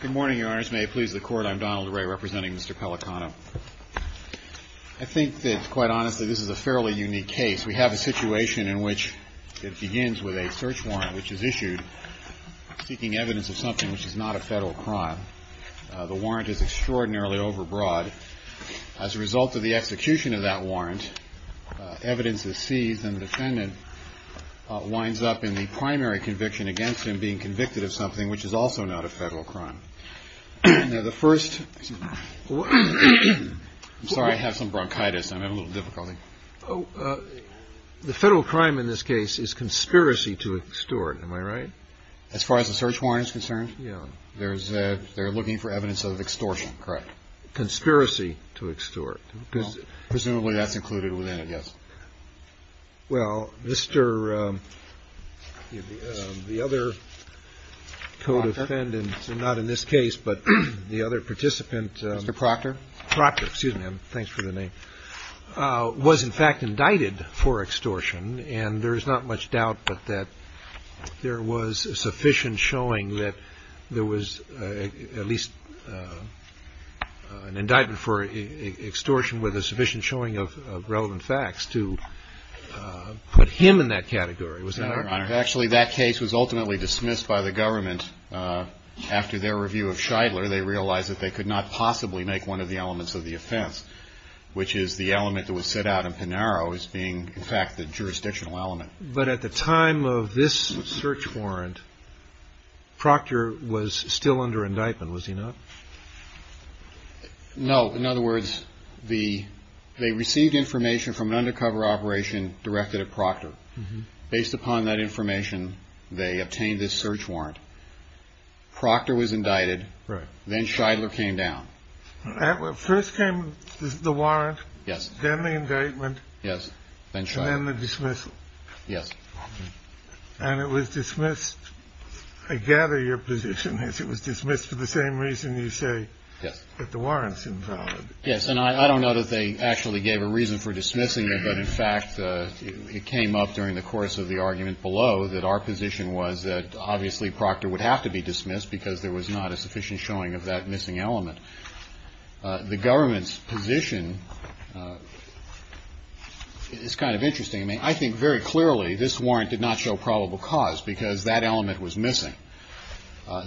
Good morning, Your Honors. May it please the Court, I'm Donald Ray representing Mr. Pellicano. I think that, quite honestly, this is a fairly unique case. We have a situation in which it begins with a search warrant which is issued seeking evidence of something which is not a federal crime. The warrant is extraordinarily overbroad. As a result of the execution of that warrant, evidence is seized and the defendant winds up in the primary conviction against him being Now the first, I'm sorry I have some bronchitis, I'm having a little difficulty. The federal crime in this case is conspiracy to extort, am I right? As far as the search warrant is concerned, they're looking for evidence of extortion, correct. Conspiracy to extort. Presumably that's included within it, yes. Well, the other co-defendant, not in this case, but the other participant, Mr. Proctor. Proctor, excuse me, thanks for the name, was in fact indicted for extortion. And there's not much doubt that there was sufficient showing that there was at least an indictment for extortion with a sufficient showing of relevant facts to put him in that category, was that right? Actually, that case was ultimately dismissed by the government after their review of Scheidler. They realized that they could not possibly make one of the elements of the offense, which is the element that was set out in Pinaro as being, in fact, the jurisdictional element. But at the time of this search warrant, Proctor was still under indictment, was he not? No. In other words, they received information from an undercover operation directed at Proctor. Based upon that information, they obtained this search warrant. Proctor was indicted. Right. Then Scheidler came down. First came the warrant. Yes. Then the indictment. Yes. And then the dismissal. Yes. And it was dismissed. I gather your position is it was dismissed for the same reason you say that the warrant's invalid. Yes. And I don't know that they actually gave a reason for dismissing it. But, in fact, it came up during the course of the argument below that our position was that, obviously, Proctor would have to be dismissed because there was not a sufficient showing of that missing element. The government's position is kind of interesting. I mean, I think very clearly this warrant did not show probable cause because that element was missing.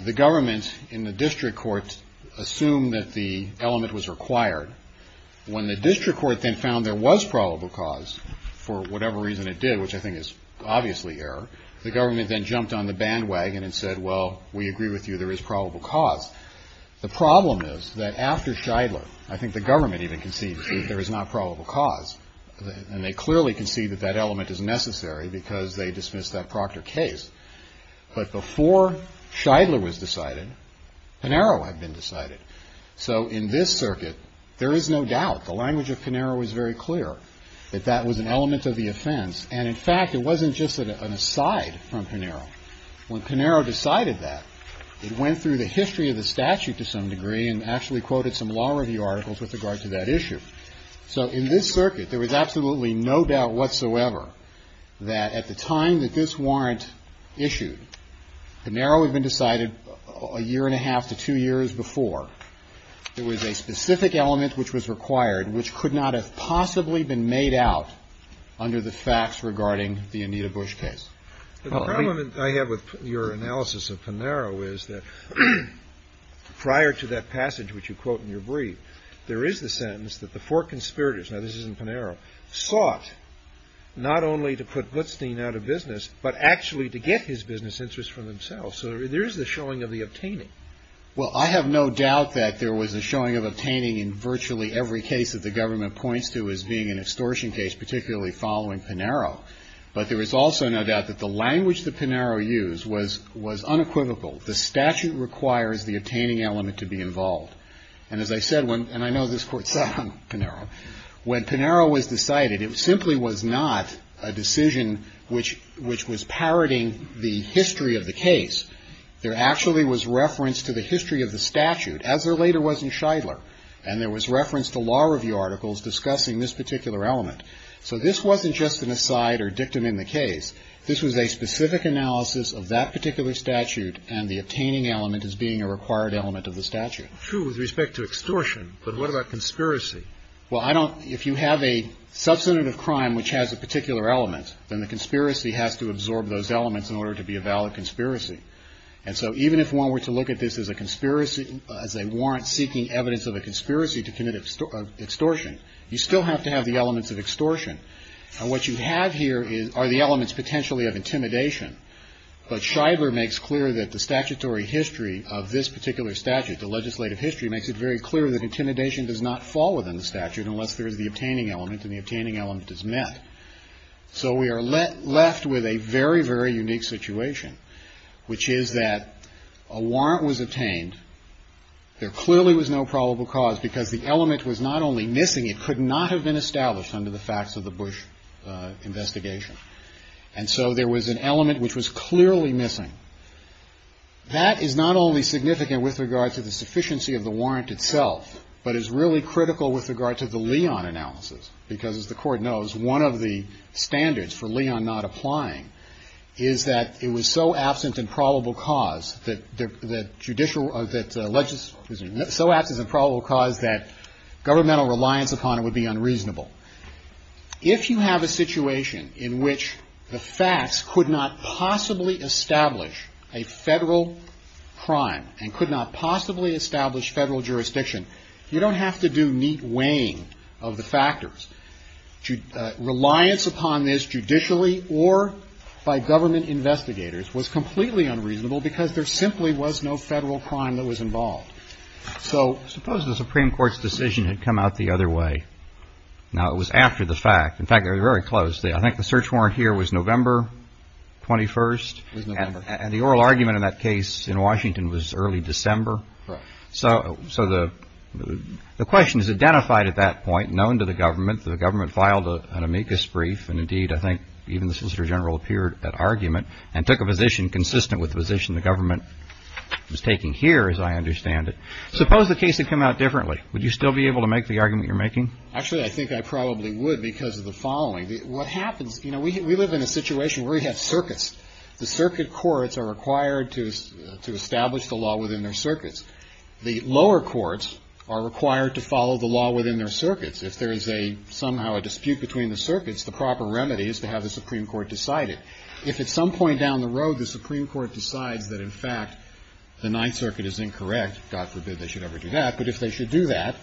The government in the district court assumed that the element was required. When the district court then found there was probable cause, for whatever reason it did, which I think is obviously error, the government then jumped on the bandwagon and said, well, we agree with you, there is probable cause. The problem is that after Scheidler, I think the government even concedes that there is not probable cause. And they clearly concede that that element is necessary because they dismissed that Proctor case. But before Scheidler was decided, Pinero had been decided. So in this circuit, there is no doubt, the language of Pinero is very clear, that that was an element of the offense. And, in fact, it wasn't just an aside from Pinero. When Pinero decided that, it went through the history of the statute to some degree and actually quoted some law review articles with regard to that issue. So in this circuit, there was absolutely no doubt whatsoever that at the time that this warrant issued, Pinero had been decided a year and a half to two years before. There was a specific element which was required which could not have possibly been made out under the facts regarding the Anita Bush case. The problem that I have with your analysis of Pinero is that prior to that passage which you quote in your brief, there is the sentence that the four conspirators, now this is in Pinero, sought not only to put Gutzstein out of business, but actually to get his business interests for themselves. So there is the showing of the obtaining. Well, I have no doubt that there was a showing of obtaining in virtually every case that the government points to as being an extortion case, particularly following Pinero. But there is also no doubt that the language that Pinero used was unequivocal. The statute requires the obtaining element to be involved. And as I said, and I know this Court saw Pinero, when Pinero was decided, it simply was not a decision which was parroting the history of the case. There actually was reference to the history of the statute, as there later was in Scheidler, and there was reference to law review articles discussing this particular element. So this wasn't just an aside or dictum in the case. This was a specific analysis of that particular statute, and the obtaining element as being a required element of the statute. True with respect to extortion, but what about conspiracy? Well, I don't – if you have a substantive crime which has a particular element, then the conspiracy has to absorb those elements in order to be a valid conspiracy. And so even if one were to look at this as a conspiracy – as a warrant seeking evidence of a conspiracy to commit extortion, you still have to have the elements of extortion. And what you have here are the elements potentially of intimidation. But Scheidler makes clear that the statutory history of this particular statute, the legislative history, makes it very clear that intimidation does not fall within the statute unless there is the obtaining element, and the obtaining element is met. So we are left with a very, very unique situation, which is that a warrant was obtained. There clearly was no probable cause because the element was not only missing, it could not have been established under the facts of the Bush investigation. And so there was an element which was clearly missing. That is not only significant with regard to the sufficiency of the warrant itself, but is really critical with regard to the Leon analysis, because as the Court knows, one of the standards for Leon not applying is that it was so absent in probable cause that judicial – that – so absent in probable cause that governmental reliance upon it would be unreasonable. If you have a situation in which the facts could not possibly establish a Federal crime and could not possibly establish Federal jurisdiction, you don't have to do neat weighing of the factors. Reliance upon this judicially or by government investigators was completely So suppose the Supreme Court's decision had come out the other way. Now, it was after the fact. In fact, it was very close. I think the search warrant here was November 21st. It was November. And the oral argument in that case in Washington was early December. Correct. So the question is identified at that point, known to the government. The government filed an amicus brief, and indeed I think even the Solicitor General appeared at argument and took a position consistent with the position the government was taking here, as I understand it. Suppose the case had come out differently. Would you still be able to make the argument you're making? Actually, I think I probably would because of the following. What happens – you know, we live in a situation where we have circuits. The circuit courts are required to establish the law within their circuits. The lower courts are required to follow the law within their circuits. If there is a – somehow a dispute between the circuits, the proper remedy is to have the Supreme Court decide it. If at some point down the road the Supreme Court decides that, in fact, the Ninth Circuit is incorrect, God forbid they should ever do that, but if they should do that,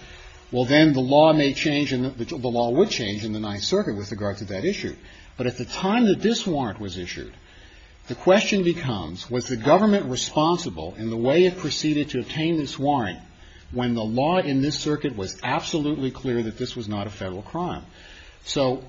well, then the law may change and the law would change in the Ninth Circuit with regard to that issue. But at the time that this warrant was issued, the question becomes, was the government responsible in the way it proceeded to obtain this warrant when the law in this circuit was absolutely clear that this was not a Federal crime? So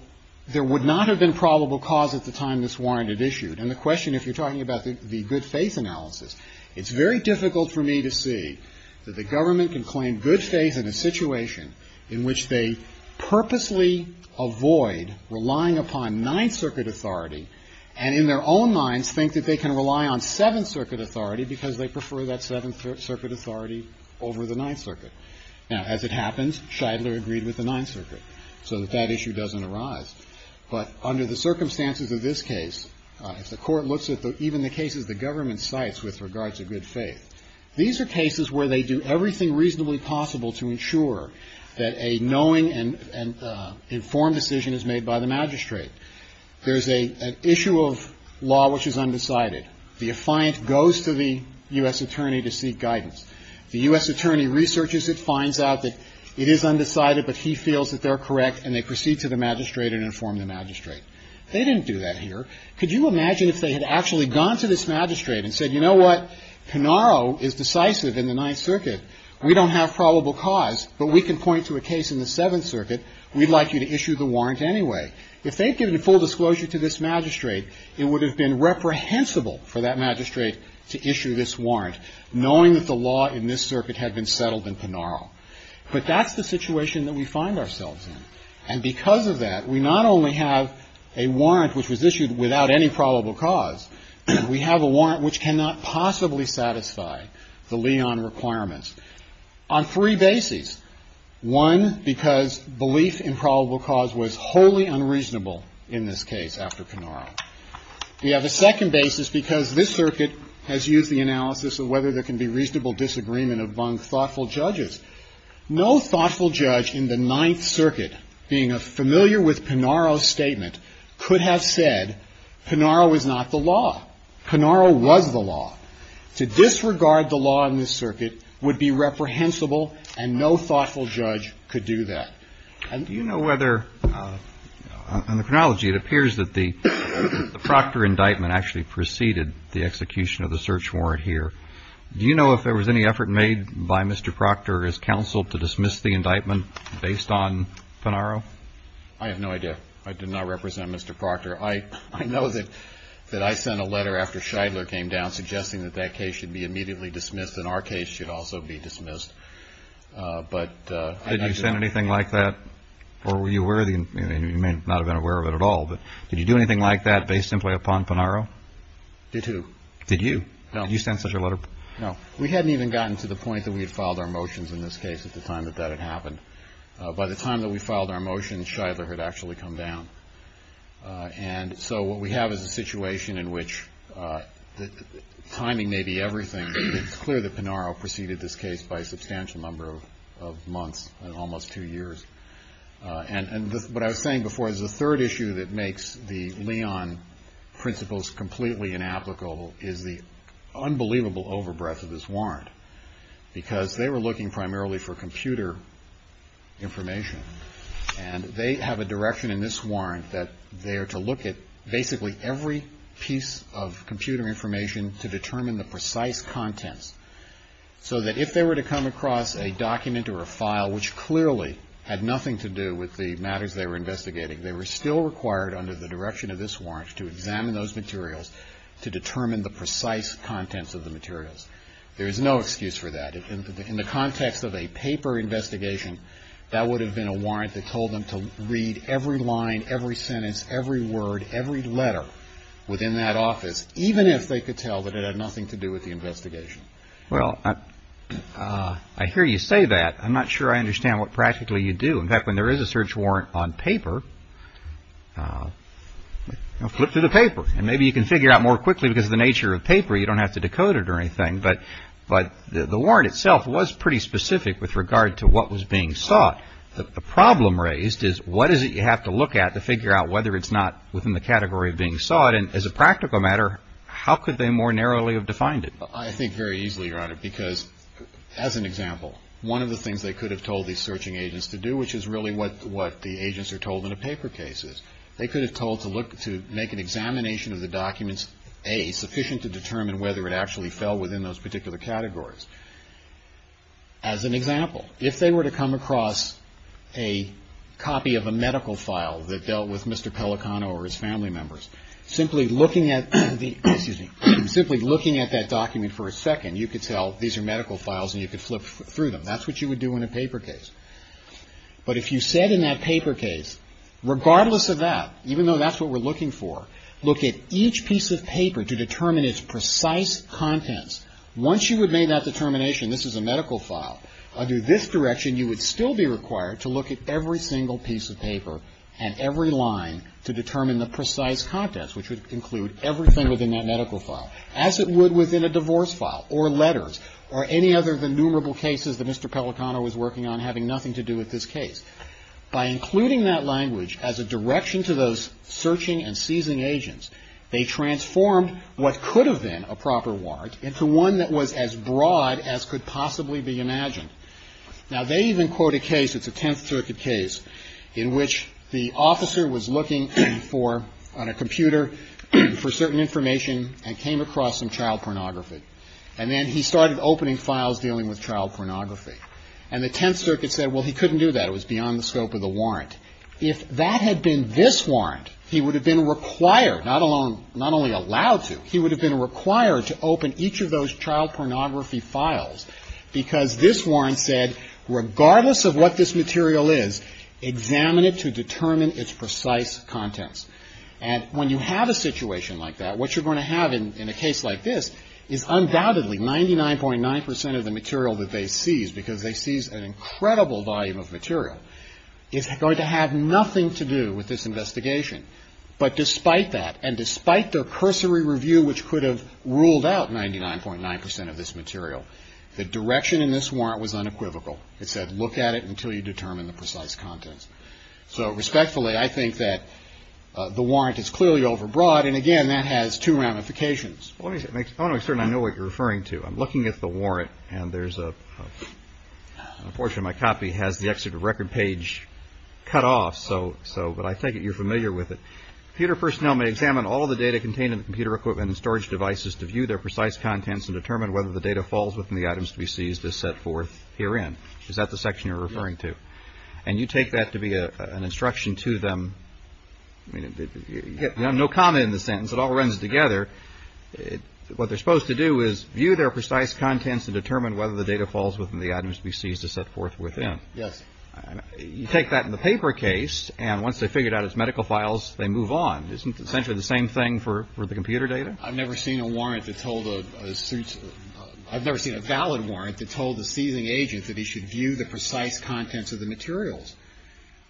there would not have been probable cause at the time this warrant had issued. And the question, if you're talking about the good faith analysis, it's very difficult for me to see that the government can claim good faith in a situation in which they purposely avoid relying upon Ninth Circuit authority and in their own minds think that they can rely on Seventh Circuit authority because they prefer that Seventh Circuit authority over the Ninth Circuit. Now, as it happens, Shidler agreed with the Ninth Circuit. So that issue doesn't arise. But under the circumstances of this case, if the Court looks at even the cases the government cites with regards to good faith, these are cases where they do everything reasonably possible to ensure that a knowing and informed decision is made by the magistrate. There's an issue of law which is undecided. The affiant goes to the U.S. attorney to seek guidance. The U.S. attorney researches it, finds out that it is undecided, but he feels that they're correct, and they proceed to the magistrate and inform the magistrate. They didn't do that here. Could you imagine if they had actually gone to this magistrate and said, you know what, Pinaro is decisive in the Ninth Circuit. We don't have probable cause, but we can point to a case in the Seventh Circuit. We'd like you to issue the warrant anyway. If they'd given full disclosure to this magistrate, it would have been reprehensible for that magistrate to issue this warrant, knowing that the law in this circuit had been settled in Pinaro. But that's the situation that we find ourselves in. And because of that, we not only have a warrant which was issued without any probable cause, we have a warrant which cannot possibly satisfy the Leon requirements on three bases. One, because belief in probable cause was wholly unreasonable in this case after Pinaro. We have a second basis because this circuit has used the analysis of whether there No thoughtful judge in the Ninth Circuit, being familiar with Pinaro's statement, could have said Pinaro was not the law. Pinaro was the law. To disregard the law in this circuit would be reprehensible, and no thoughtful judge could do that. And do you know whether, on the chronology, it appears that the Proctor indictment actually preceded the execution of the search warrant here. Do you know if there was any effort made by Mr. Proctor as counsel to dismiss the indictment based on Pinaro? I have no idea. I did not represent Mr. Proctor. I know that I sent a letter after Scheidler came down suggesting that that case should be immediately dismissed, and our case should also be dismissed. But I don't know. Did you send anything like that? Or were you aware of it? You may not have been aware of it at all. But did you do anything like that based simply upon Pinaro? Did who? Did you? Did you send such a letter? No. We hadn't even gotten to the point that we had filed our motions in this case at the time that that had happened. By the time that we filed our motions, Scheidler had actually come down. And so what we have is a situation in which the timing may be everything, but it's clear that Pinaro preceded this case by a substantial number of months and almost two years. And what I was saying before is the third issue that makes the Leon principles completely inapplicable is the unbelievable over-breath of this warrant, because they were looking primarily for computer information. And they have a direction in this warrant that they are to look at basically every piece of computer information to determine the precise contents, so that if they were to come across a document or a file which clearly had nothing to do with the matters they were investigating, they were still required under the direction of this warrant to examine those materials to determine the precise contents of the materials. There is no excuse for that. In the context of a paper investigation, that would have been a warrant that told them to read every line, every sentence, every word, every letter within that office, even if they could tell that it had nothing to do with the investigation. Well, I hear you say that. I'm not sure I understand what practically you do. In fact, when there is a search warrant on paper, flip through the paper, and maybe you can figure out more quickly because of the nature of paper, you don't have to decode it or anything. But the warrant itself was pretty specific with regard to what was being sought. The problem raised is what is it you have to look at to figure out whether it's not within the category of being sought? And as a practical matter, how could they more narrowly have defined it? I think very easily, Your Honor, because as an example, one of the things they agents are told in a paper case is they could have told to look to make an examination of the documents, A, sufficient to determine whether it actually fell within those particular categories. As an example, if they were to come across a copy of a medical file that dealt with Mr. Pellicano or his family members, simply looking at that document for a second, you could tell these are medical files and you could flip through them. That's what you would do in a paper case. But if you said in that paper case, regardless of that, even though that's what we're looking for, look at each piece of paper to determine its precise contents. Once you would make that determination, this is a medical file, under this direction you would still be required to look at every single piece of paper and every line to determine the precise contents, which would include everything within that medical file, as it would within a divorce file or letters or any other than numerable cases that Mr. Pellicano was working on having nothing to do with this case. By including that language as a direction to those searching and seizing agents, they transformed what could have been a proper warrant into one that was as broad as could possibly be imagined. Now, they even quote a case, it's a Tenth Circuit case, in which the officer was looking for, on a computer, for certain information and came across some child pornography. And then he started opening files dealing with child pornography. And the Tenth Circuit said, well, he couldn't do that. It was beyond the scope of the warrant. If that had been this warrant, he would have been required, not only allowed to, he would have been required to open each of those child pornography files because this warrant said, regardless of what this material is, examine it to determine its precise contents. And when you have a situation like that, what you're going to have in a case like this is undoubtedly 99.9 percent of the material that they seize, because they seize an incredible volume of material, is going to have nothing to do with this investigation. But despite that, and despite their cursory review, which could have ruled out 99.9 percent of this material, the direction in this warrant was unequivocal. It said, look at it until you determine the precise contents. So, respectfully, I think that the warrant is clearly overbroad. And, again, that has two ramifications. I want to make certain I know what you're referring to. I'm looking at the warrant, and there's a portion of my copy has the exit of record page cut off, but I take it you're familiar with it. Computer personnel may examine all of the data contained in the computer equipment and storage devices to view their precise contents and determine whether the data falls within the items to be seized as set forth herein. Is that the section you're referring to? And you take that to be an instruction to them. You have no comma in the sentence. Once it all runs together, what they're supposed to do is view their precise contents and determine whether the data falls within the items to be seized as set forth within. Yes. You take that in the paper case, and once they figure it out as medical files, they move on. Isn't it essentially the same thing for the computer data? I've never seen a warrant that told a – I've never seen a valid warrant that told a seizing agent that he should view the precise contents of the materials.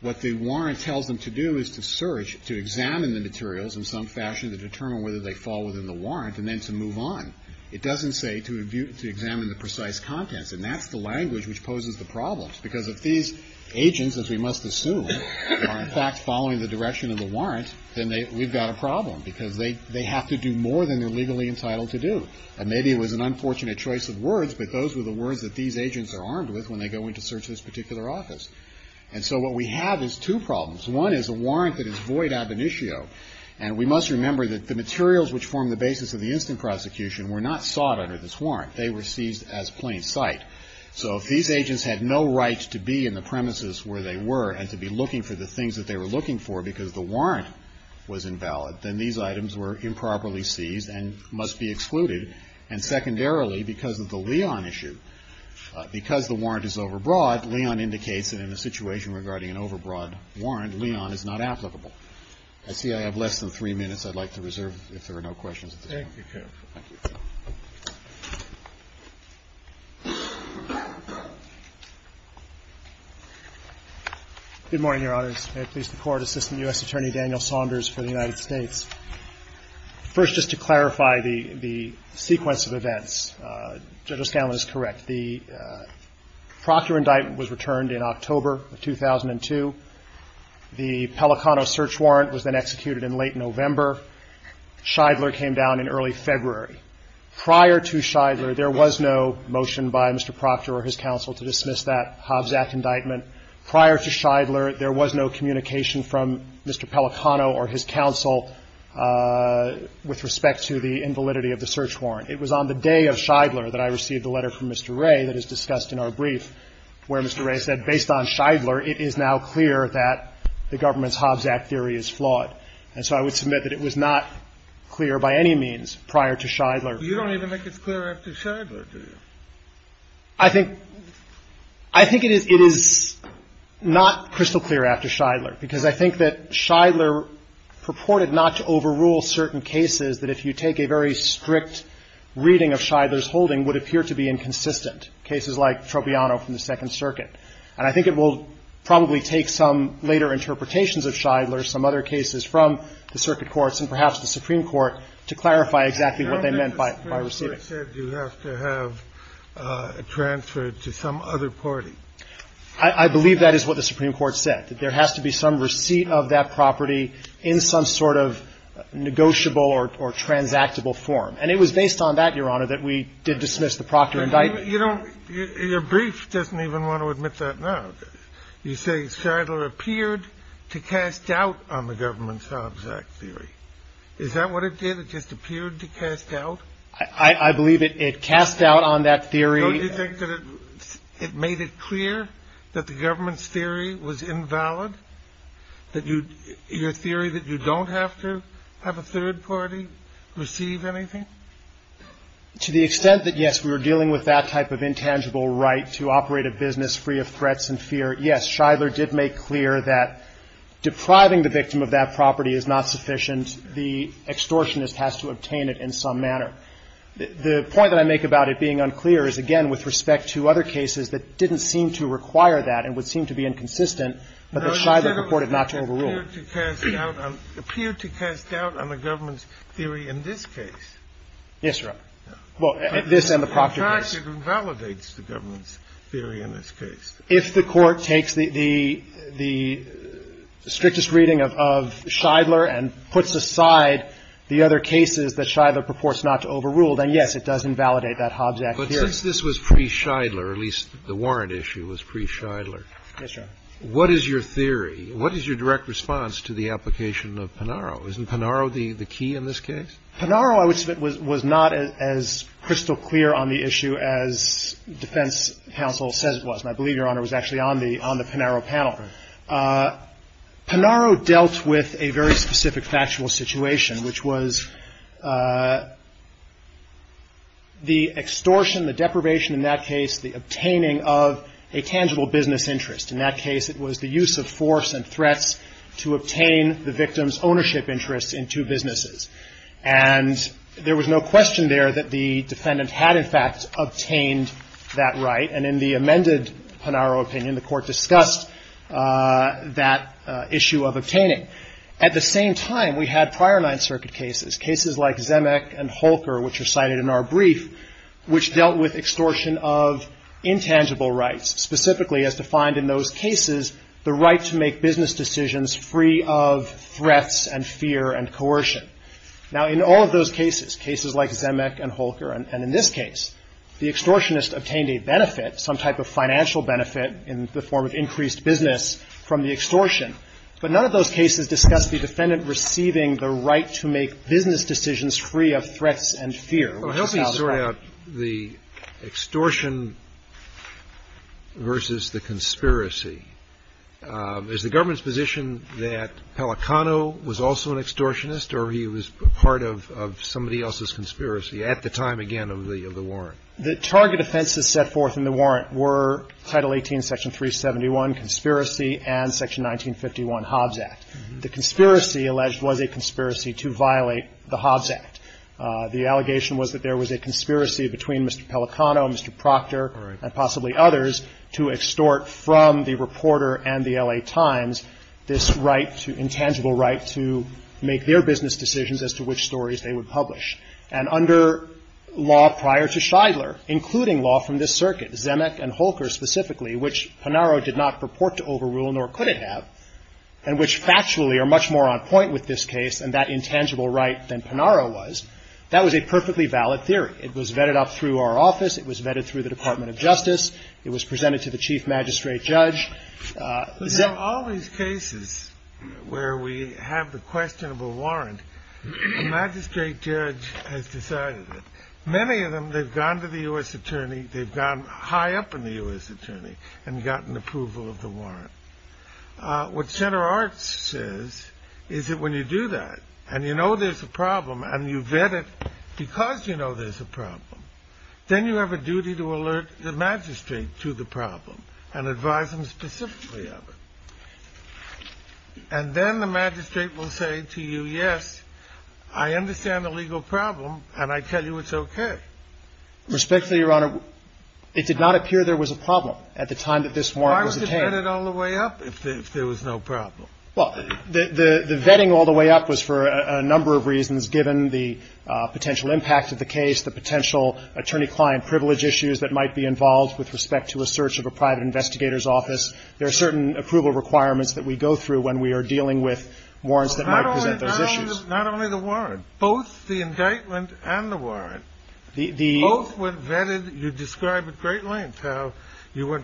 What the warrant tells them to do is to search, to examine the materials in some fashion to determine whether they fall within the warrant and then to move on. It doesn't say to examine the precise contents, and that's the language which poses the problems because if these agents, as we must assume, are in fact following the direction of the warrant, then we've got a problem because they have to do more than they're legally entitled to do. And maybe it was an unfortunate choice of words, but those were the words that these agents are armed with when they go in to search this particular office. And so what we have is two problems. One is a warrant that is void ab initio, and we must remember that the materials which form the basis of the instant prosecution were not sought under this warrant. They were seized as plain sight. So if these agents had no right to be in the premises where they were and to be looking for the things that they were looking for because the warrant was invalid, then these items were improperly seized and must be excluded. And secondarily, because of the Leon issue, because the warrant is overbroad, Leon indicates that in a situation regarding an overbroad warrant, Leon is not applicable. I see I have less than three minutes I'd like to reserve if there are no questions at this point. Thank you, counsel. Thank you. Good morning, Your Honors. May it please the Court. Assistant U.S. Attorney Daniel Saunders for the United States. First, just to clarify the sequence of events, Judge O'Scallion is correct. The Proctor indictment was returned in October of 2002. The Pelicano search warrant was then executed in late November. Scheidler came down in early February. Prior to Scheidler, there was no motion by Mr. Proctor or his counsel to dismiss that Hobbs Act indictment. Prior to Scheidler, there was no communication from Mr. Pelicano or his counsel with respect to the invalidity of the search warrant. It was on the day of Scheidler that I received a letter from Mr. Ray that is discussed in our brief where Mr. Ray said, based on Scheidler, it is now clear that the government's Hobbs Act theory is flawed. And so I would submit that it was not clear by any means prior to Scheidler. You don't even make it clear after Scheidler, do you? I think it is not crystal clear after Scheidler, because I think that Scheidler purported not to overrule certain cases that if you take a very strict reading of Scheidler's holding would appear to be inconsistent, cases like Tropiano from the Second Circuit. And I think it will probably take some later interpretations of Scheidler, some other cases from the circuit courts and perhaps the Supreme Court, to clarify exactly what they meant by receiving. But you said you have to have it transferred to some other party. I believe that is what the Supreme Court said, that there has to be some receipt of that property in some sort of negotiable or transactable form. And it was based on that, Your Honor, that we did dismiss the Proctor indictment. But you don't – your brief doesn't even want to admit that now. You say Scheidler appeared to cast doubt on the government's Hobbs Act theory. Is that what it did? It just appeared to cast doubt? I believe it cast doubt on that theory. Don't you think that it made it clear that the government's theory was invalid, your theory that you don't have to have a third party receive anything? To the extent that, yes, we were dealing with that type of intangible right to operate a business free of threats and fear, yes, Scheidler did make clear that depriving the victim of that property is not sufficient. And the extortionist has to obtain it in some manner. The point that I make about it being unclear is, again, with respect to other cases that didn't seem to require that and would seem to be inconsistent, but that Scheidler reported not to overrule it. It appeared to cast doubt on the government's theory in this case. Yes, Your Honor. Well, this and the Proctor case. In fact, it invalidates the government's theory in this case. If the Court takes the strictest reading of Scheidler and puts aside the other cases that Scheidler purports not to overrule, then, yes, it does invalidate that Hobbs Act theory. But since this was pre-Scheidler, at least the warrant issue was pre-Scheidler. Yes, Your Honor. What is your theory? What is your direct response to the application of Panaro? Isn't Panaro the key in this case? Panaro, I would submit, was not as crystal clear on the issue as defense counsel says it was. And I believe, Your Honor, it was actually on the Panaro panel. Panaro dealt with a very specific factual situation, which was the extortion, the deprivation in that case, the obtaining of a tangible business interest. In that case, it was the use of force and threats to obtain the victim's ownership interests in two businesses. And there was no question there that the defendant had, in fact, obtained that right. And in the amended Panaro opinion, the court discussed that issue of obtaining. At the same time, we had prior Ninth Circuit cases, cases like Zemeck and Holker, which are cited in our brief, which dealt with extortion of intangible rights, specifically as defined in those cases, the right to make business decisions free of threats and fear and coercion. Now, in all of those cases, cases like Zemeck and Holker and in this case, the benefit, some type of financial benefit in the form of increased business from the extortion. But none of those cases discussed the defendant receiving the right to make business decisions free of threats and fear. Scalia. Well, help me sort out the extortion versus the conspiracy. Is the government's position that Pelicano was also an extortionist or he was part of somebody else's conspiracy at the time, again, of the warrant? The target offenses set forth in the warrant were Title 18, Section 371, conspiracy, and Section 1951, Hobbs Act. The conspiracy alleged was a conspiracy to violate the Hobbs Act. The allegation was that there was a conspiracy between Mr. Pelicano, Mr. Proctor, and possibly others to extort from the reporter and the L.A. Times this right, intangible right, to make their business decisions as to which stories they would publish. And under law prior to Shidler, including law from this circuit, Zemeck and Holker specifically, which Panaro did not purport to overrule nor could it have, and which factually are much more on point with this case and that intangible right than Panaro was, that was a perfectly valid theory. It was vetted up through our office. It was vetted through the Department of Justice. It was presented to the Chief Magistrate Judge. In all these cases where we have the questionable warrant, a magistrate judge has decided it. Many of them, they've gone to the U.S. attorney. They've gone high up in the U.S. attorney and gotten approval of the warrant. What Center Arts says is that when you do that and you know there's a problem and you vet it because you know there's a problem, then you have a duty to alert the magistrate to the problem and advise them specifically of it. And then the magistrate will say to you, yes, I understand the legal problem, and I tell you it's okay. Respectfully, Your Honor, it did not appear there was a problem at the time that this warrant was obtained. Why was it vetted all the way up if there was no problem? Well, the vetting all the way up was for a number of reasons, given the potential impact of the case, the potential attorney-client privilege issues that might be involved with respect to a search of a private investigator's office. There are certain approval requirements that we go through when we are dealing with warrants that might present those issues. Not only the warrant. Both the indictment and the warrant. Both were vetted. You describe at great length how you would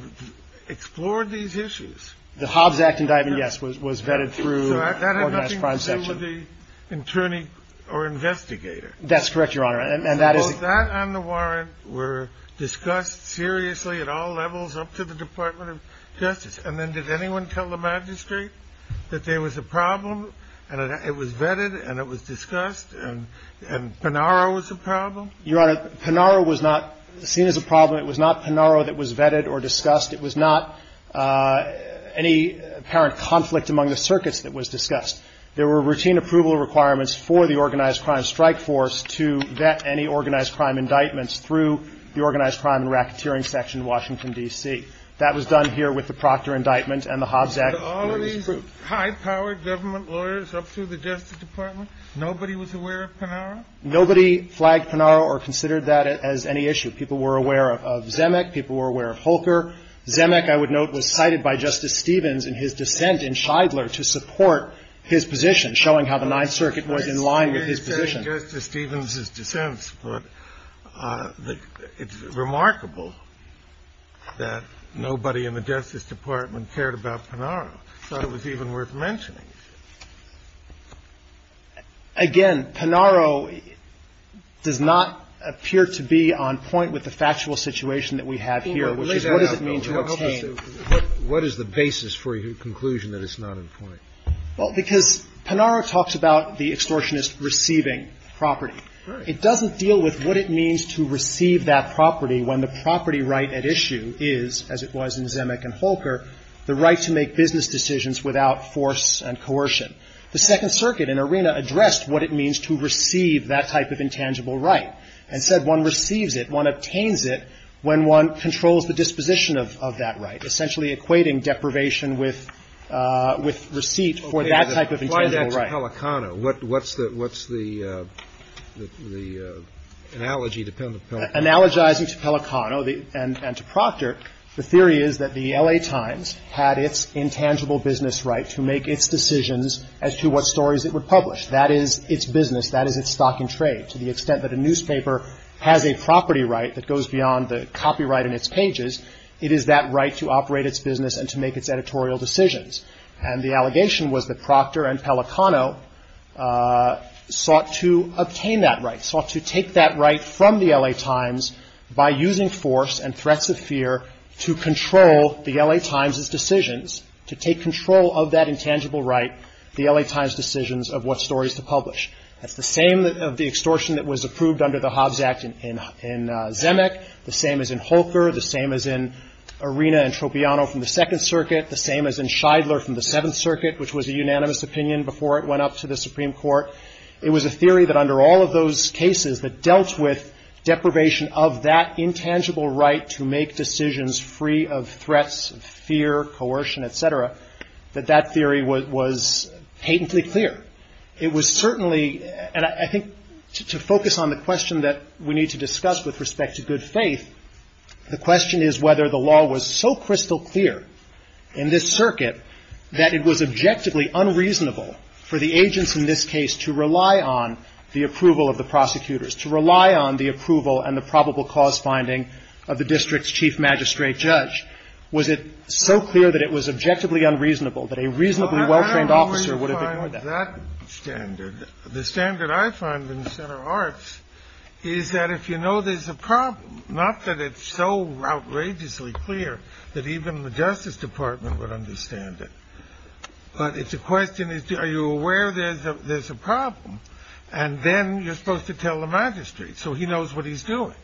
explore these issues. The Hobbs Act indictment, yes, was vetted through the organized crime section. So that had nothing to do with the attorney or investigator. That's correct, Your Honor. Suppose that and the warrant were discussed seriously at all levels up to the Department of Justice, and then did anyone tell the magistrate that there was a problem and it was vetted and it was discussed and Panaro was a problem? Your Honor, Panaro was not seen as a problem. It was not Panaro that was vetted or discussed. It was not any apparent conflict among the circuits that was discussed. There were routine approval requirements for the organized crime strike force to vet any organized crime indictments through the organized crime and racketeering section in Washington, D.C. That was done here with the Proctor indictment and the Hobbs Act. Was all of these high-powered government lawyers up to the Justice Department? Nobody was aware of Panaro? Nobody flagged Panaro or considered that as any issue. People were aware of Zemeck. People were aware of Holker. Zemeck, I would note, was cited by Justice Stevens in his dissent in Shidler to support his position, showing how the Ninth Circuit was in line with his position. Justice Stevens' dissent, but it's remarkable that nobody in the Justice Department cared about Panaro. I thought it was even worth mentioning. Again, Panaro does not appear to be on point with the factual situation that we have here, which is what does it mean to obtain? Well, because Panaro talks about the extortionist receiving property. It doesn't deal with what it means to receive that property when the property right at issue is, as it was in Zemeck and Holker, the right to make business decisions without force and coercion. The Second Circuit in Arena addressed what it means to receive that type of intangible right and said one receives it, one obtains it when one controls the disposition of that right, essentially equating deprivation with receipt for that type of intangible Okay. Apply that to Pelicano. What's the analogy to Pelicano? Analogizing to Pelicano and to Proctor, the theory is that the L.A. Times had its intangible business right to make its decisions as to what stories it would publish. That is its business. That is its stock and trade. To the extent that a newspaper has a property right that goes beyond the copyright in its pages, it is that right to operate its business and to make its editorial decisions. And the allegation was that Proctor and Pelicano sought to obtain that right, sought to take that right from the L.A. Times by using force and threats of fear to control the L.A. Times' decisions, to take control of that intangible right, the L.A. Times' decisions of what stories to publish. That's the same of the extortion that was approved under the Hobbs Act in Zemeck, the same as in Holker, the same as in Arena and Tropiano from the Second Circuit, the same as in Scheidler from the Seventh Circuit, which was a unanimous opinion before it went up to the Supreme Court. It was a theory that under all of those cases that dealt with deprivation of that intangible right to make decisions free of threats, fear, coercion, et cetera, that that theory was patently clear. It was certainly, and I think to focus on the question that we need to discuss with respect to good faith, the question is whether the law was so crystal clear in this circuit that it was objectively unreasonable for the agents in this case to rely on the approval of the prosecutors, to rely on the approval and the probable cause finding of the district's chief magistrate judge. Was it so clear that it was objectively unreasonable that a reasonably well-trained officer would have ignored that? The standard I find in the Center of Arts is that if you know there's a problem, not that it's so outrageously clear that even the Justice Department would understand it, but it's a question, are you aware there's a problem? And then you're supposed to tell the magistrate so he knows what he's doing.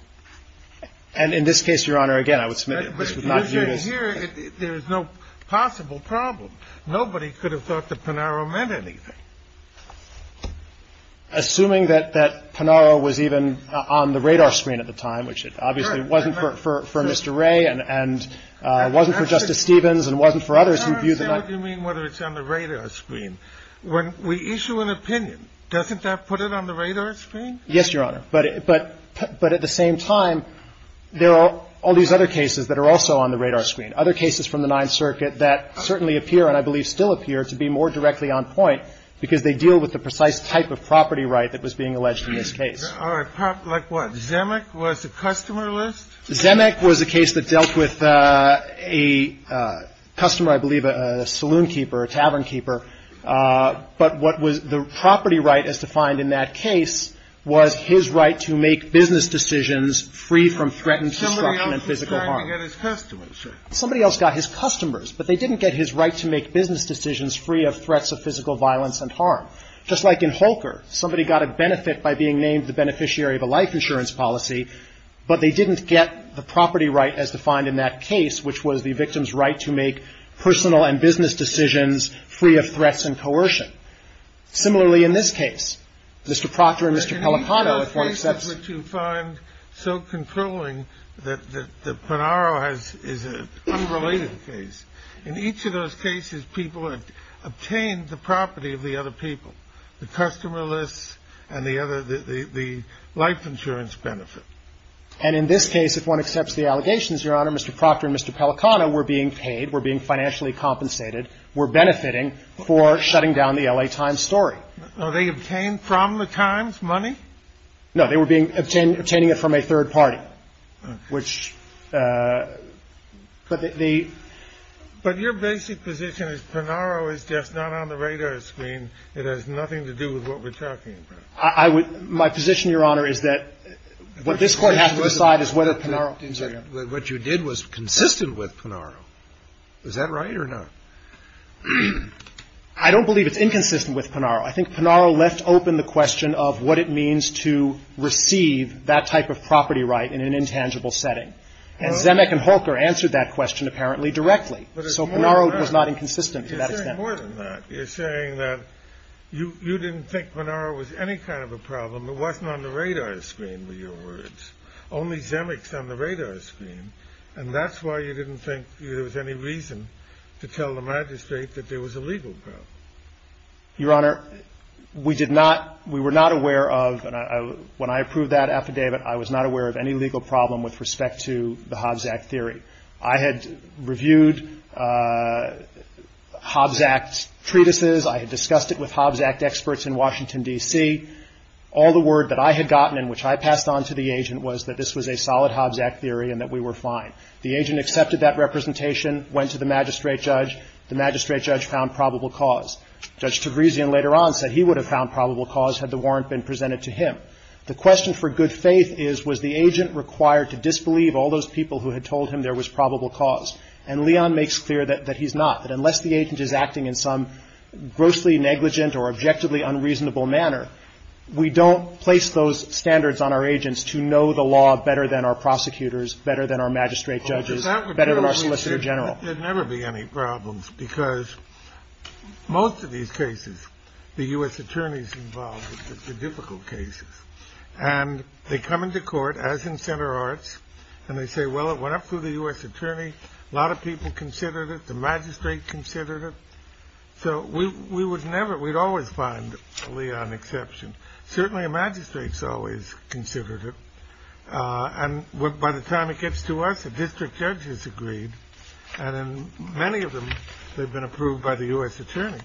And in this case, Your Honor, again, I would submit it. There is no possible problem. Nobody could have thought that Panaro meant anything. Assuming that Panaro was even on the radar screen at the time, which it obviously wasn't for Mr. Ray and wasn't for Justice Stevens and wasn't for others who viewed that. I don't understand what you mean whether it's on the radar screen. When we issue an opinion, doesn't that put it on the radar screen? Yes, Your Honor. But at the same time, there are all these other cases that are also on the radar screen, other cases from the Ninth Circuit that certainly appear and I believe still appear to be more directly on point because they deal with the precise type of property right that was being alleged in this case. Like what? Zemeck was a customer list? Zemeck was a case that dealt with a customer, I believe, a saloon keeper, a tavern keeper. But what was the property right as defined in that case was his right to make business decisions free from threatened destruction and physical harm. Somebody else was trying to get his customers, sir. Somebody else got his customers, but they didn't get his right to make business decisions free of threats of physical violence and harm. Just like in Holker, somebody got a benefit by being named the beneficiary of a life insurance policy, but they didn't get the property right as defined in that case, which was the victim's right to make personal and business decisions free of threats and coercion. Similarly in this case. Mr. Proctor and Mr. Pellicano, if one accepts... The cases which you find so controlling that Ponnaro has is an unrelated case. In each of those cases, people have obtained the property of the other people, the customer lists and the other, the life insurance benefit. And in this case, if one accepts the allegations, Your Honor, Mr. Proctor and Mr. Pellicano were being paid, were being financially compensated, were benefiting for shutting down the L.A. Times story. Were they obtained from the Times money? No, they were being obtained, obtaining it from a third party. Okay. Which, but the... But your basic position is Ponnaro is just not on the radar screen. It has nothing to do with what we're talking about. I would, my position, Your Honor, is that what this Court has to decide is whether Ponnaro... What you did was consistent with Ponnaro. Is that right or not? I don't believe it's inconsistent with Ponnaro. I think Ponnaro left open the question of what it means to receive that type of property right in an intangible setting. And Zemeck and Holker answered that question apparently directly. So Ponnaro was not inconsistent to that extent. You're saying more than that. You're saying that you didn't think Ponnaro was any kind of a problem. It wasn't on the radar screen were your words. Only Zemeck's on the radar screen. And that's why you didn't think there was any reason to tell the magistrate that there was a legal problem. Your Honor, we did not, we were not aware of, when I approved that affidavit, I was not aware of any legal problem with respect to the Hobbs Act theory. I had reviewed Hobbs Act treatises. I had discussed it with Hobbs Act experts in Washington, D.C. All the word that I had gotten and which I passed on to the agent was that this was a solid Hobbs Act theory and that we were fine. The agent accepted that representation, went to the magistrate judge. The magistrate judge found probable cause. Judge Tegresian later on said he would have found probable cause had the warrant been presented to him. The question for good faith is was the agent required to disbelieve all those people who had told him there was probable cause. And Leon makes clear that he's not. That unless the agent is acting in some grossly negligent or objectively unreasonable manner, we don't place those standards on our agents to know the law better than our prosecutors, better than our magistrate judges, better than our solicitor general. There'd never be any problems because most of these cases, the U.S. attorneys involved with the difficult cases. And they come into court, as in Center Arts, and they say, well, it went up through the U.S. attorney. A lot of people considered it. The magistrate considered it. So we would never, we'd always find Leon exception. Certainly a magistrate's always considered it. And by the time it gets to us, a district judge has agreed. And in many of them, they've been approved by the U.S. attorney.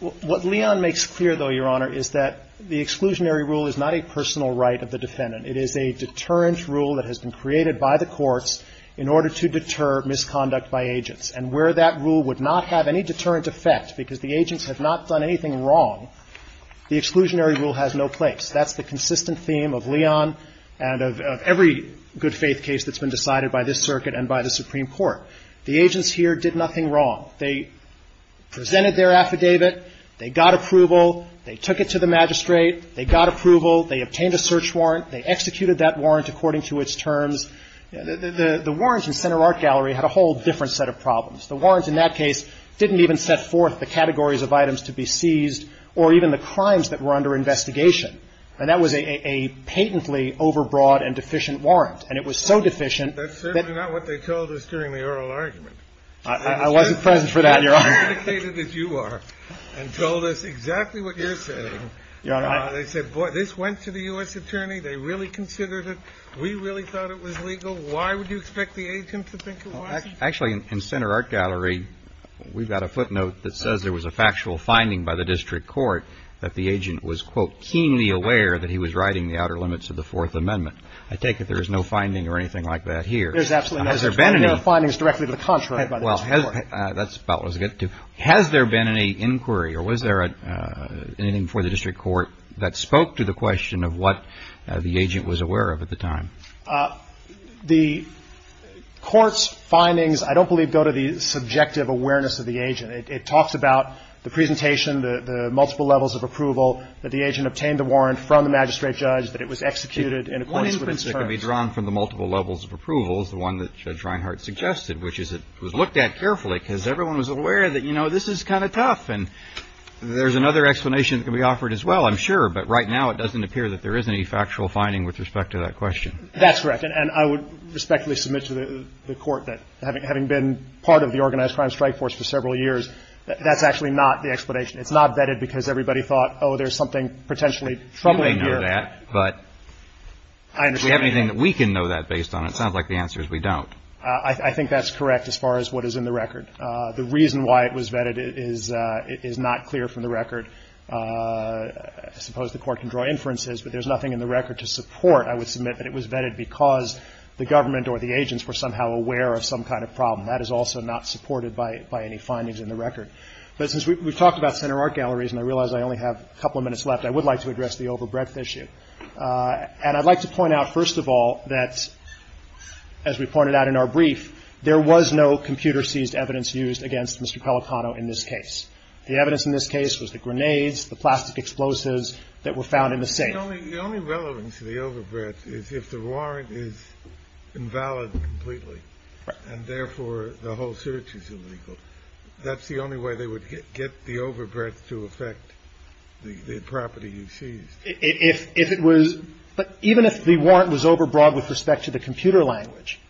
What Leon makes clear, though, Your Honor, is that the exclusionary rule is not a personal right of the defendant. It is a deterrent rule that has been created by the courts in order to deter misconduct by agents. And where that rule would not have any deterrent effect because the agents have not done anything wrong, the exclusionary rule has no place. That's the consistent theme of Leon and of every good faith case that's been decided by this circuit and by the Supreme Court. The agents here did nothing wrong. They presented their affidavit. They got approval. They took it to the magistrate. They got approval. They obtained a search warrant. They executed that warrant according to its terms. The warrants in Center Art Gallery had a whole different set of problems. The warrants in that case didn't even set forth the categories of items to be seized or even the crimes that were under investigation. And that was a patently overbroad and deficient warrant. And it was so deficient that ---- That's certainly not what they told us during the oral argument. I wasn't present for that, Your Honor. They indicated that you are and told us exactly what you're saying. Your Honor, I ---- They said, boy, this went to the U.S. attorney. They really considered it. We really thought it was legal. Why would you expect the agent to think it was? Actually, in Center Art Gallery, we've got a footnote that says there was a factual finding by the district court that the agent was, quote, keenly aware that he was riding the outer limits of the Fourth Amendment. I take it there is no finding or anything like that here. There's absolutely no finding. Has there been any ---- There are findings directly to the contrary by the district court. Well, that's about what I was getting to. Has there been any inquiry or was there anything before the district court that spoke to the question of what the agent was aware of at the time? The court's findings, I don't believe, go to the subjective awareness of the agent. It talks about the presentation, the multiple levels of approval, that the agent obtained the warrant from the magistrate judge, that it was executed in accordance with his terms. One instance that can be drawn from the multiple levels of approval is the one that Judge Reinhart suggested, which is it was looked at carefully because everyone was aware that, you know, this is kind of tough. And there's another explanation that can be offered as well, I'm sure, but right now it doesn't appear that there is any factual finding with respect to that question. That's correct. And I would respectfully submit to the court that having been part of the Organized Crime Strike Force for several years, that's actually not the explanation. It's not vetted because everybody thought, oh, there's something potentially troubling here. You may know that, but do we have anything that we can know that based on it? It sounds like the answer is we don't. I think that's correct as far as what is in the record. The reason why it was vetted is not clear from the record. I suppose the court can draw inferences, but there's nothing in the record to support, I would submit, kind of problem. That is also not supported by any findings in the record. But since we've talked about center art galleries and I realize I only have a couple of minutes left, I would like to address the overbreadth issue. And I'd like to point out, first of all, that, as we pointed out in our brief, there was no computer-seized evidence used against Mr. Pelicano in this case. The evidence in this case was the grenades, the plastic explosives that were found in the safe. The only relevance to the overbreadth is if the warrant is invalid completely and, therefore, the whole search is illegal. That's the only way they would get the overbreadth to affect the property you seized. If it was – but even if the warrant was overbroad with respect to the computer language,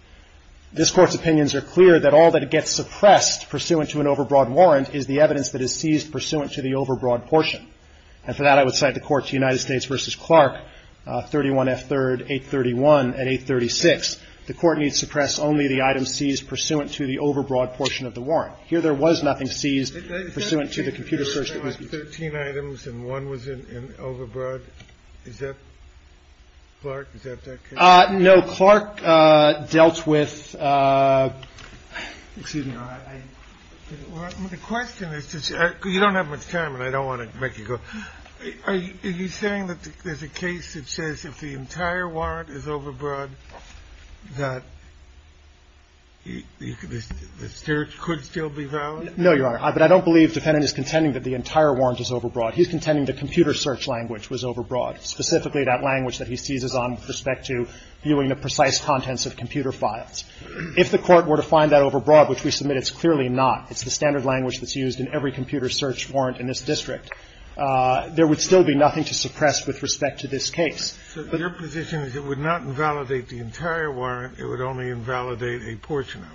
this Court's opinions are clear that all that gets suppressed pursuant to an overbroad warrant is the evidence that is seized pursuant to the overbroad portion. And for that, I would cite the court to United States v. Clark, 31F3rd 831 at 836. The court needs to suppress only the items seized pursuant to the overbroad portion of the warrant. Here, there was nothing seized pursuant to the computer search that was used. Is that a case where there were, like, 13 items and one was overbroad? Is that – Clark, is that that case? No. Clark dealt with – excuse me. The question is – you don't have much time, and I don't want to make you go. Are you saying that there's a case that says if the entire warrant is overbroad that the search could still be valid? No, Your Honor. But I don't believe the defendant is contending that the entire warrant is overbroad. He's contending the computer search language was overbroad, specifically that language that he seizes on with respect to viewing the precise contents of computer files. If the Court were to find that overbroad, which we submit it's clearly not, it's the standard language that's used in every computer search warrant in this district, there would still be nothing to suppress with respect to this case. So your position is it would not invalidate the entire warrant. It would only invalidate a portion of it.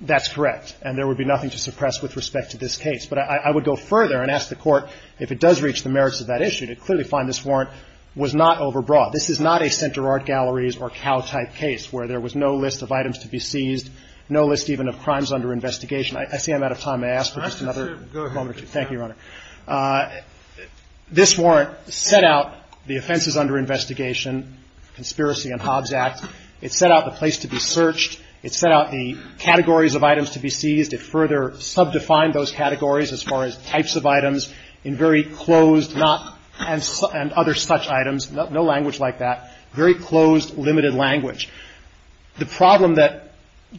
That's correct. And there would be nothing to suppress with respect to this case. But I would go further and ask the Court if it does reach the merits of that issue to clearly find this warrant was not overbroad. This is not a Center Art Galleries or Cal-type case where there was no list of items to be seized, no list even of crimes under investigation. I see I'm out of time. May I ask for just another moment or two? Thank you, Your Honor. This warrant set out the offenses under investigation, conspiracy and Hobbs Act. It set out the place to be searched. It set out the categories of items to be seized. It further subdefined those categories as far as types of items in very closed and other such items. No language like that. Very closed, limited language. The problem that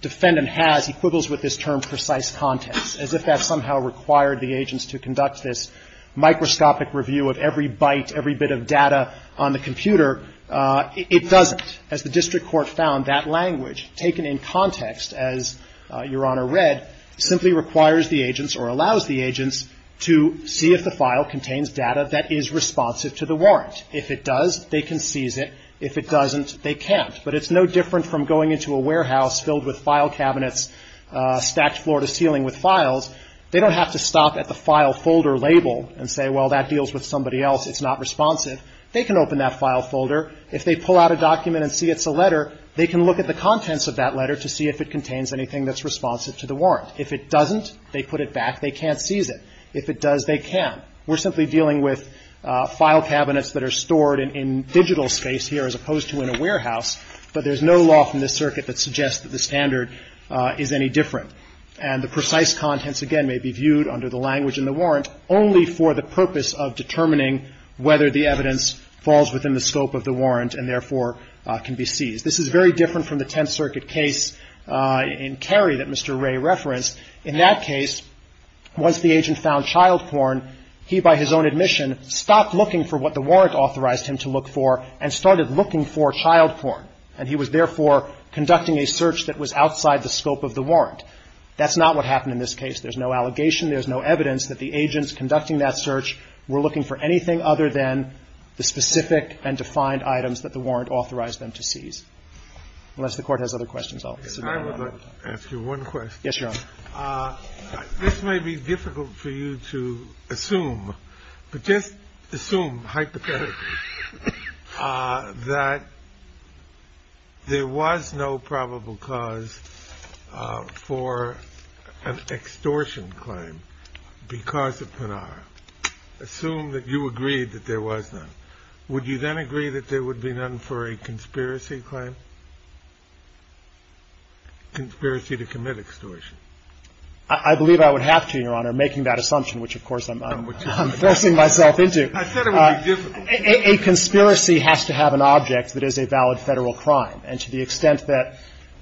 Defendant has equivals with this term precise context, as if that somehow required the agents to conduct this microscopic review of every byte, every bit of data on the computer. It doesn't. As the district court found, that language taken in context, as Your Honor read, simply requires the agents or allows the agents to see if the file contains data that is responsive to the warrant. If it does, they can seize it. If it doesn't, they can't. But it's no different from going into a warehouse filled with file cabinets, stacked floor to ceiling with files. They don't have to stop at the file folder label and say, well that deals with somebody else, it's not responsive. They can open that file folder. If they pull out a document and see it's a letter, they can look at the contents of that letter to see if it contains anything that's responsive to the warrant. If it doesn't, they put it back. They can't seize it. If it does, they can. We're simply dealing with file cabinets that are stored in digital space here, as opposed to in a warehouse. But there's no law from this circuit that suggests that the standard is any different. And the precise contents, again, may be viewed under the language in the warrant only for the purpose of determining whether the evidence falls within the scope of the warrant and, therefore, can be seized. This is very different from the Tenth Circuit case in Cary that Mr. Ray referenced. In that case, once the agent found child porn, he, by his own admission, stopped looking for what the warrant authorized him to look for and started looking for child porn. And he was, therefore, conducting a search that was outside the scope of the warrant. That's not what happened in this case. There's no allegation. There's no evidence that the agents conducting that search were looking for anything other than the specific and defined items that the warrant authorized them to seize. Unless the Court has other questions, I'll cede the floor. I'll ask you one question. Yes, Your Honor. This may be difficult for you to assume, but just assume hypothetically that there was no probable cause for an extortion claim because of Pinar. Assume that you agreed that there was none. Would you then agree that there would be none for a conspiracy claim? Conspiracy to commit extortion. I believe I would have to, Your Honor, making that assumption, which, of course, I'm forcing myself into. I said it would be difficult. A conspiracy has to have an object that is a valid Federal crime. And to the extent that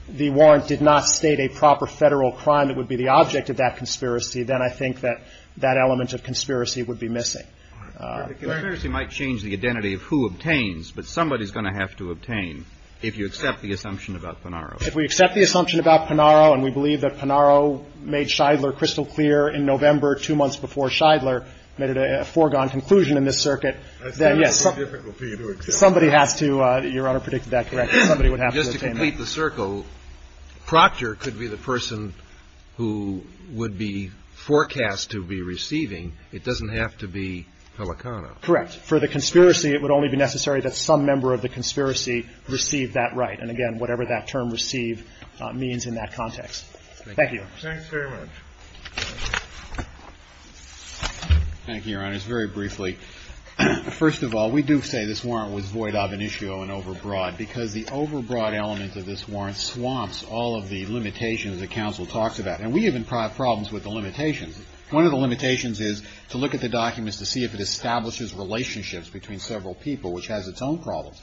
the warrant did not state a proper Federal crime that would be the object of that conspiracy, then I think that that element of conspiracy would be missing. The conspiracy might change the identity of who obtains, but somebody's going to have to obtain if you accept the assumption about Pinaro. If we accept the assumption about Pinaro and we believe that Pinaro made Scheidler crystal clear in November, two months before Scheidler made a foregone conclusion in this circuit, then, yes. I said it would be difficult for you to accept. Somebody has to, Your Honor, predict that correctly. Somebody would have to obtain that. Just to complete the circle, Proctor could be the person who would be forecast to be receiving. It doesn't have to be Pelicano. Correct. For the conspiracy, it would only be necessary that some member of the conspiracy receive that right. And, again, whatever that term, receive, means in that context. Thank you. Thanks very much. Thank you, Your Honors. Very briefly, first of all, we do say this warrant was void of initio and overbroad because the overbroad element of this warrant swamps all of the limitations that counsel talks about. And we have problems with the limitations. One of the limitations is to look at the documents to see if it establishes relationships between several people, which has its own problems.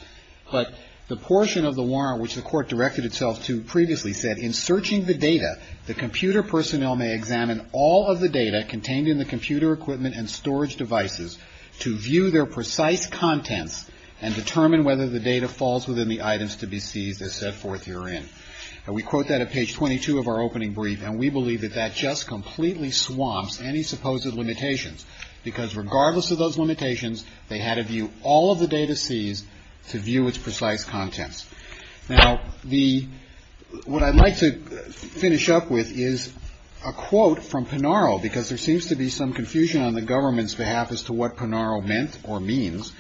But the portion of the warrant which the Court directed itself to previously said, in searching the data, the computer personnel may examine all of the data contained in the computer equipment and storage devices to view their precise contents and determine whether the data falls within the items to be seized, as set forth herein. And we quote that at page 22 of our opening brief. And we believe that that just completely swamps any supposed limitations because, regardless of those limitations, they had to view all of the data seized to view its precise contents. Now, the what I'd like to finish up with is a quote from Pinaro because there seems to be some confusion on the government's behalf as to what Pinaro meant or means.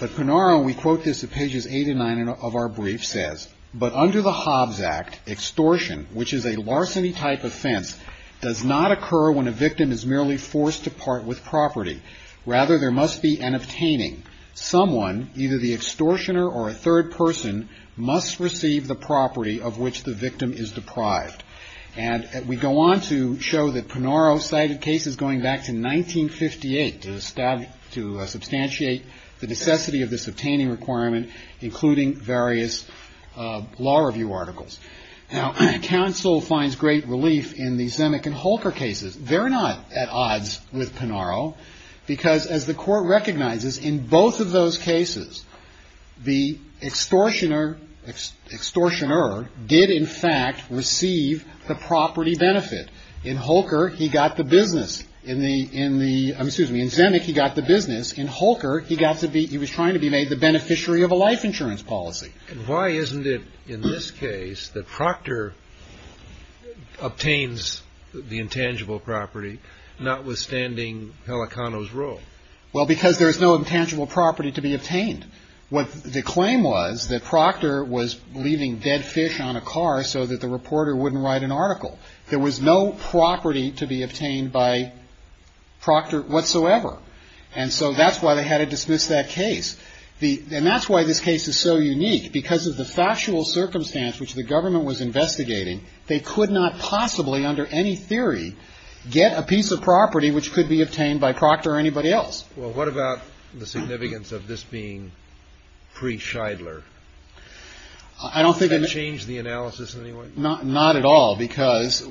But Pinaro, we quote this at pages 8 and 9 of our brief, says, But under the Hobbs Act, extortion, which is a larceny type offense, does not occur when a victim is merely forced to part with property. Rather, there must be an obtaining. Someone, either the extortioner or a third person, must receive the property of which the victim is deprived. And we go on to show that Pinaro cited cases going back to 1958 to substantiate the necessity of this obtaining requirement, including various law review articles. Now, counsel finds great relief in the Zemeck and Holker cases. They're not at odds with Pinaro because, as the court recognizes, in both of those cases, the extortioner did, in fact, receive the property benefit. In Holker, he got the business. In the excuse me, in Zemeck, he got the business. In Holker, he was trying to be made the beneficiary of a life insurance policy. And why isn't it, in this case, that Proctor obtains the intangible property, notwithstanding Pelicano's role? Well, because there is no intangible property to be obtained. What the claim was that Proctor was leaving dead fish on a car so that the reporter wouldn't write an article. There was no property to be obtained by Proctor whatsoever. And so that's why they had to dismiss that case. And that's why this case is so unique. Because of the factual circumstance which the government was investigating, they could not possibly, under any theory, get a piece of property which could be obtained by Proctor or anybody else. Well, what about the significance of this being pre-Shidler? Has that changed the analysis in any way? Not at all, because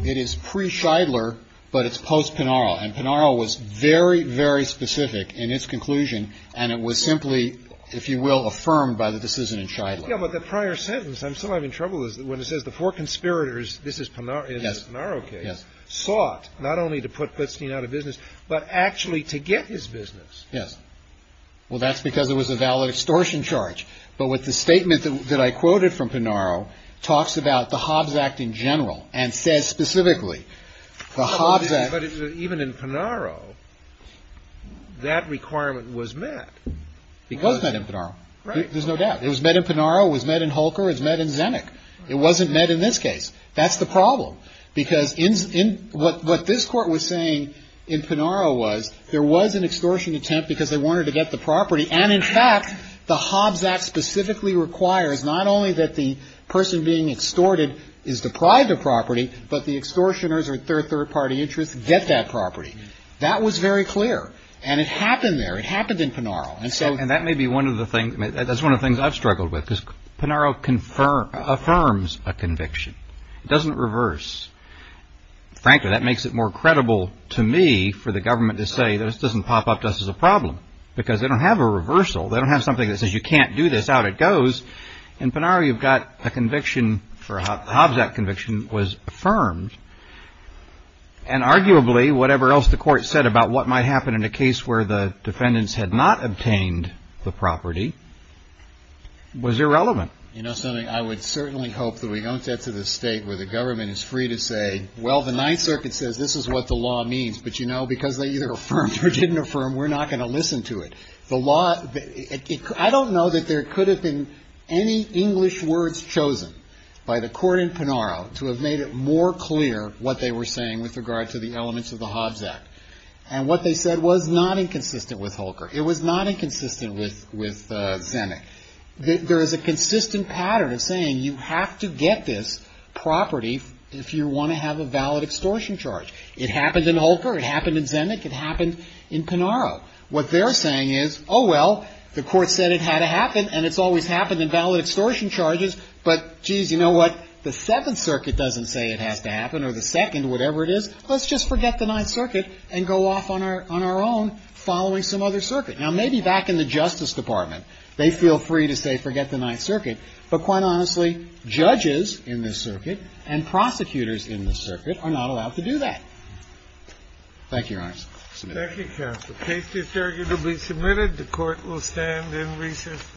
it is pre-Shidler, but it's post-Pinaro. And Pinaro was very, very specific in its conclusion. And it was simply, if you will, affirmed by the decision in Shidler. Yeah, but the prior sentence, I'm still having trouble with, when it says the four conspirators, this is Pinaro's case, sought not only to put Putstein out of business, but actually to get his business. Yes. Well, that's because it was a valid extortion charge. But with the statement that I quoted from Pinaro talks about the Hobbs Act in general and says specifically the Hobbs Act. But even in Pinaro, that requirement was met. It was met in Pinaro. There's no doubt. It was met in Pinaro. It was met in Holker. It was met in Zinnick. It wasn't met in this case. That's the problem. Because in what this Court was saying in Pinaro was there was an extortion attempt because they wanted to get the property. And in fact, the Hobbs Act specifically requires not only that the person being extorted is deprived of property, but the extortioners or third-party interests get that property. That was very clear. And it happened there. It happened in Pinaro. And so. And that may be one of the things. That's one of the things I've struggled with because Pinaro affirms a conviction. It doesn't reverse. Frankly, that makes it more credible to me for the government to say this doesn't pop up to us as a problem because they don't have a reversal. They don't have something that says you can't do this, out it goes. In Pinaro, you've got a conviction for a Hobbs Act conviction was affirmed. And arguably, whatever else the Court said about what might happen in a case where the defendants had not obtained the property was irrelevant. You know something? I would certainly hope that we don't get to the state where the government is free to say, well, the Ninth Circuit says this is what the law means. But, you know, because they either affirmed or didn't affirm, we're not going to listen to it. I don't know that there could have been any English words chosen by the Court in Pinaro to have made it more clear what they were saying with regard to the elements of the Hobbs Act. And what they said was not inconsistent with Holker. It was not inconsistent with Zinnick. There is a consistent pattern of saying you have to get this property if you want to have a valid extortion charge. It happened in Holker. It happened in Zinnick. It happened in Pinaro. What they're saying is, oh, well, the Court said it had to happen, and it's always happened in valid extortion charges. But, geez, you know what? The Seventh Circuit doesn't say it has to happen, or the Second, whatever it is. Let's just forget the Ninth Circuit and go off on our own following some other circuit. Now, maybe back in the Justice Department they feel free to say forget the Ninth Circuit. But quite honestly, judges in this circuit and prosecutors in this circuit are not allowed to do that. Thank you, Your Honors. Thank you, counsel. The case is arguably submitted. The Court will stand in recess.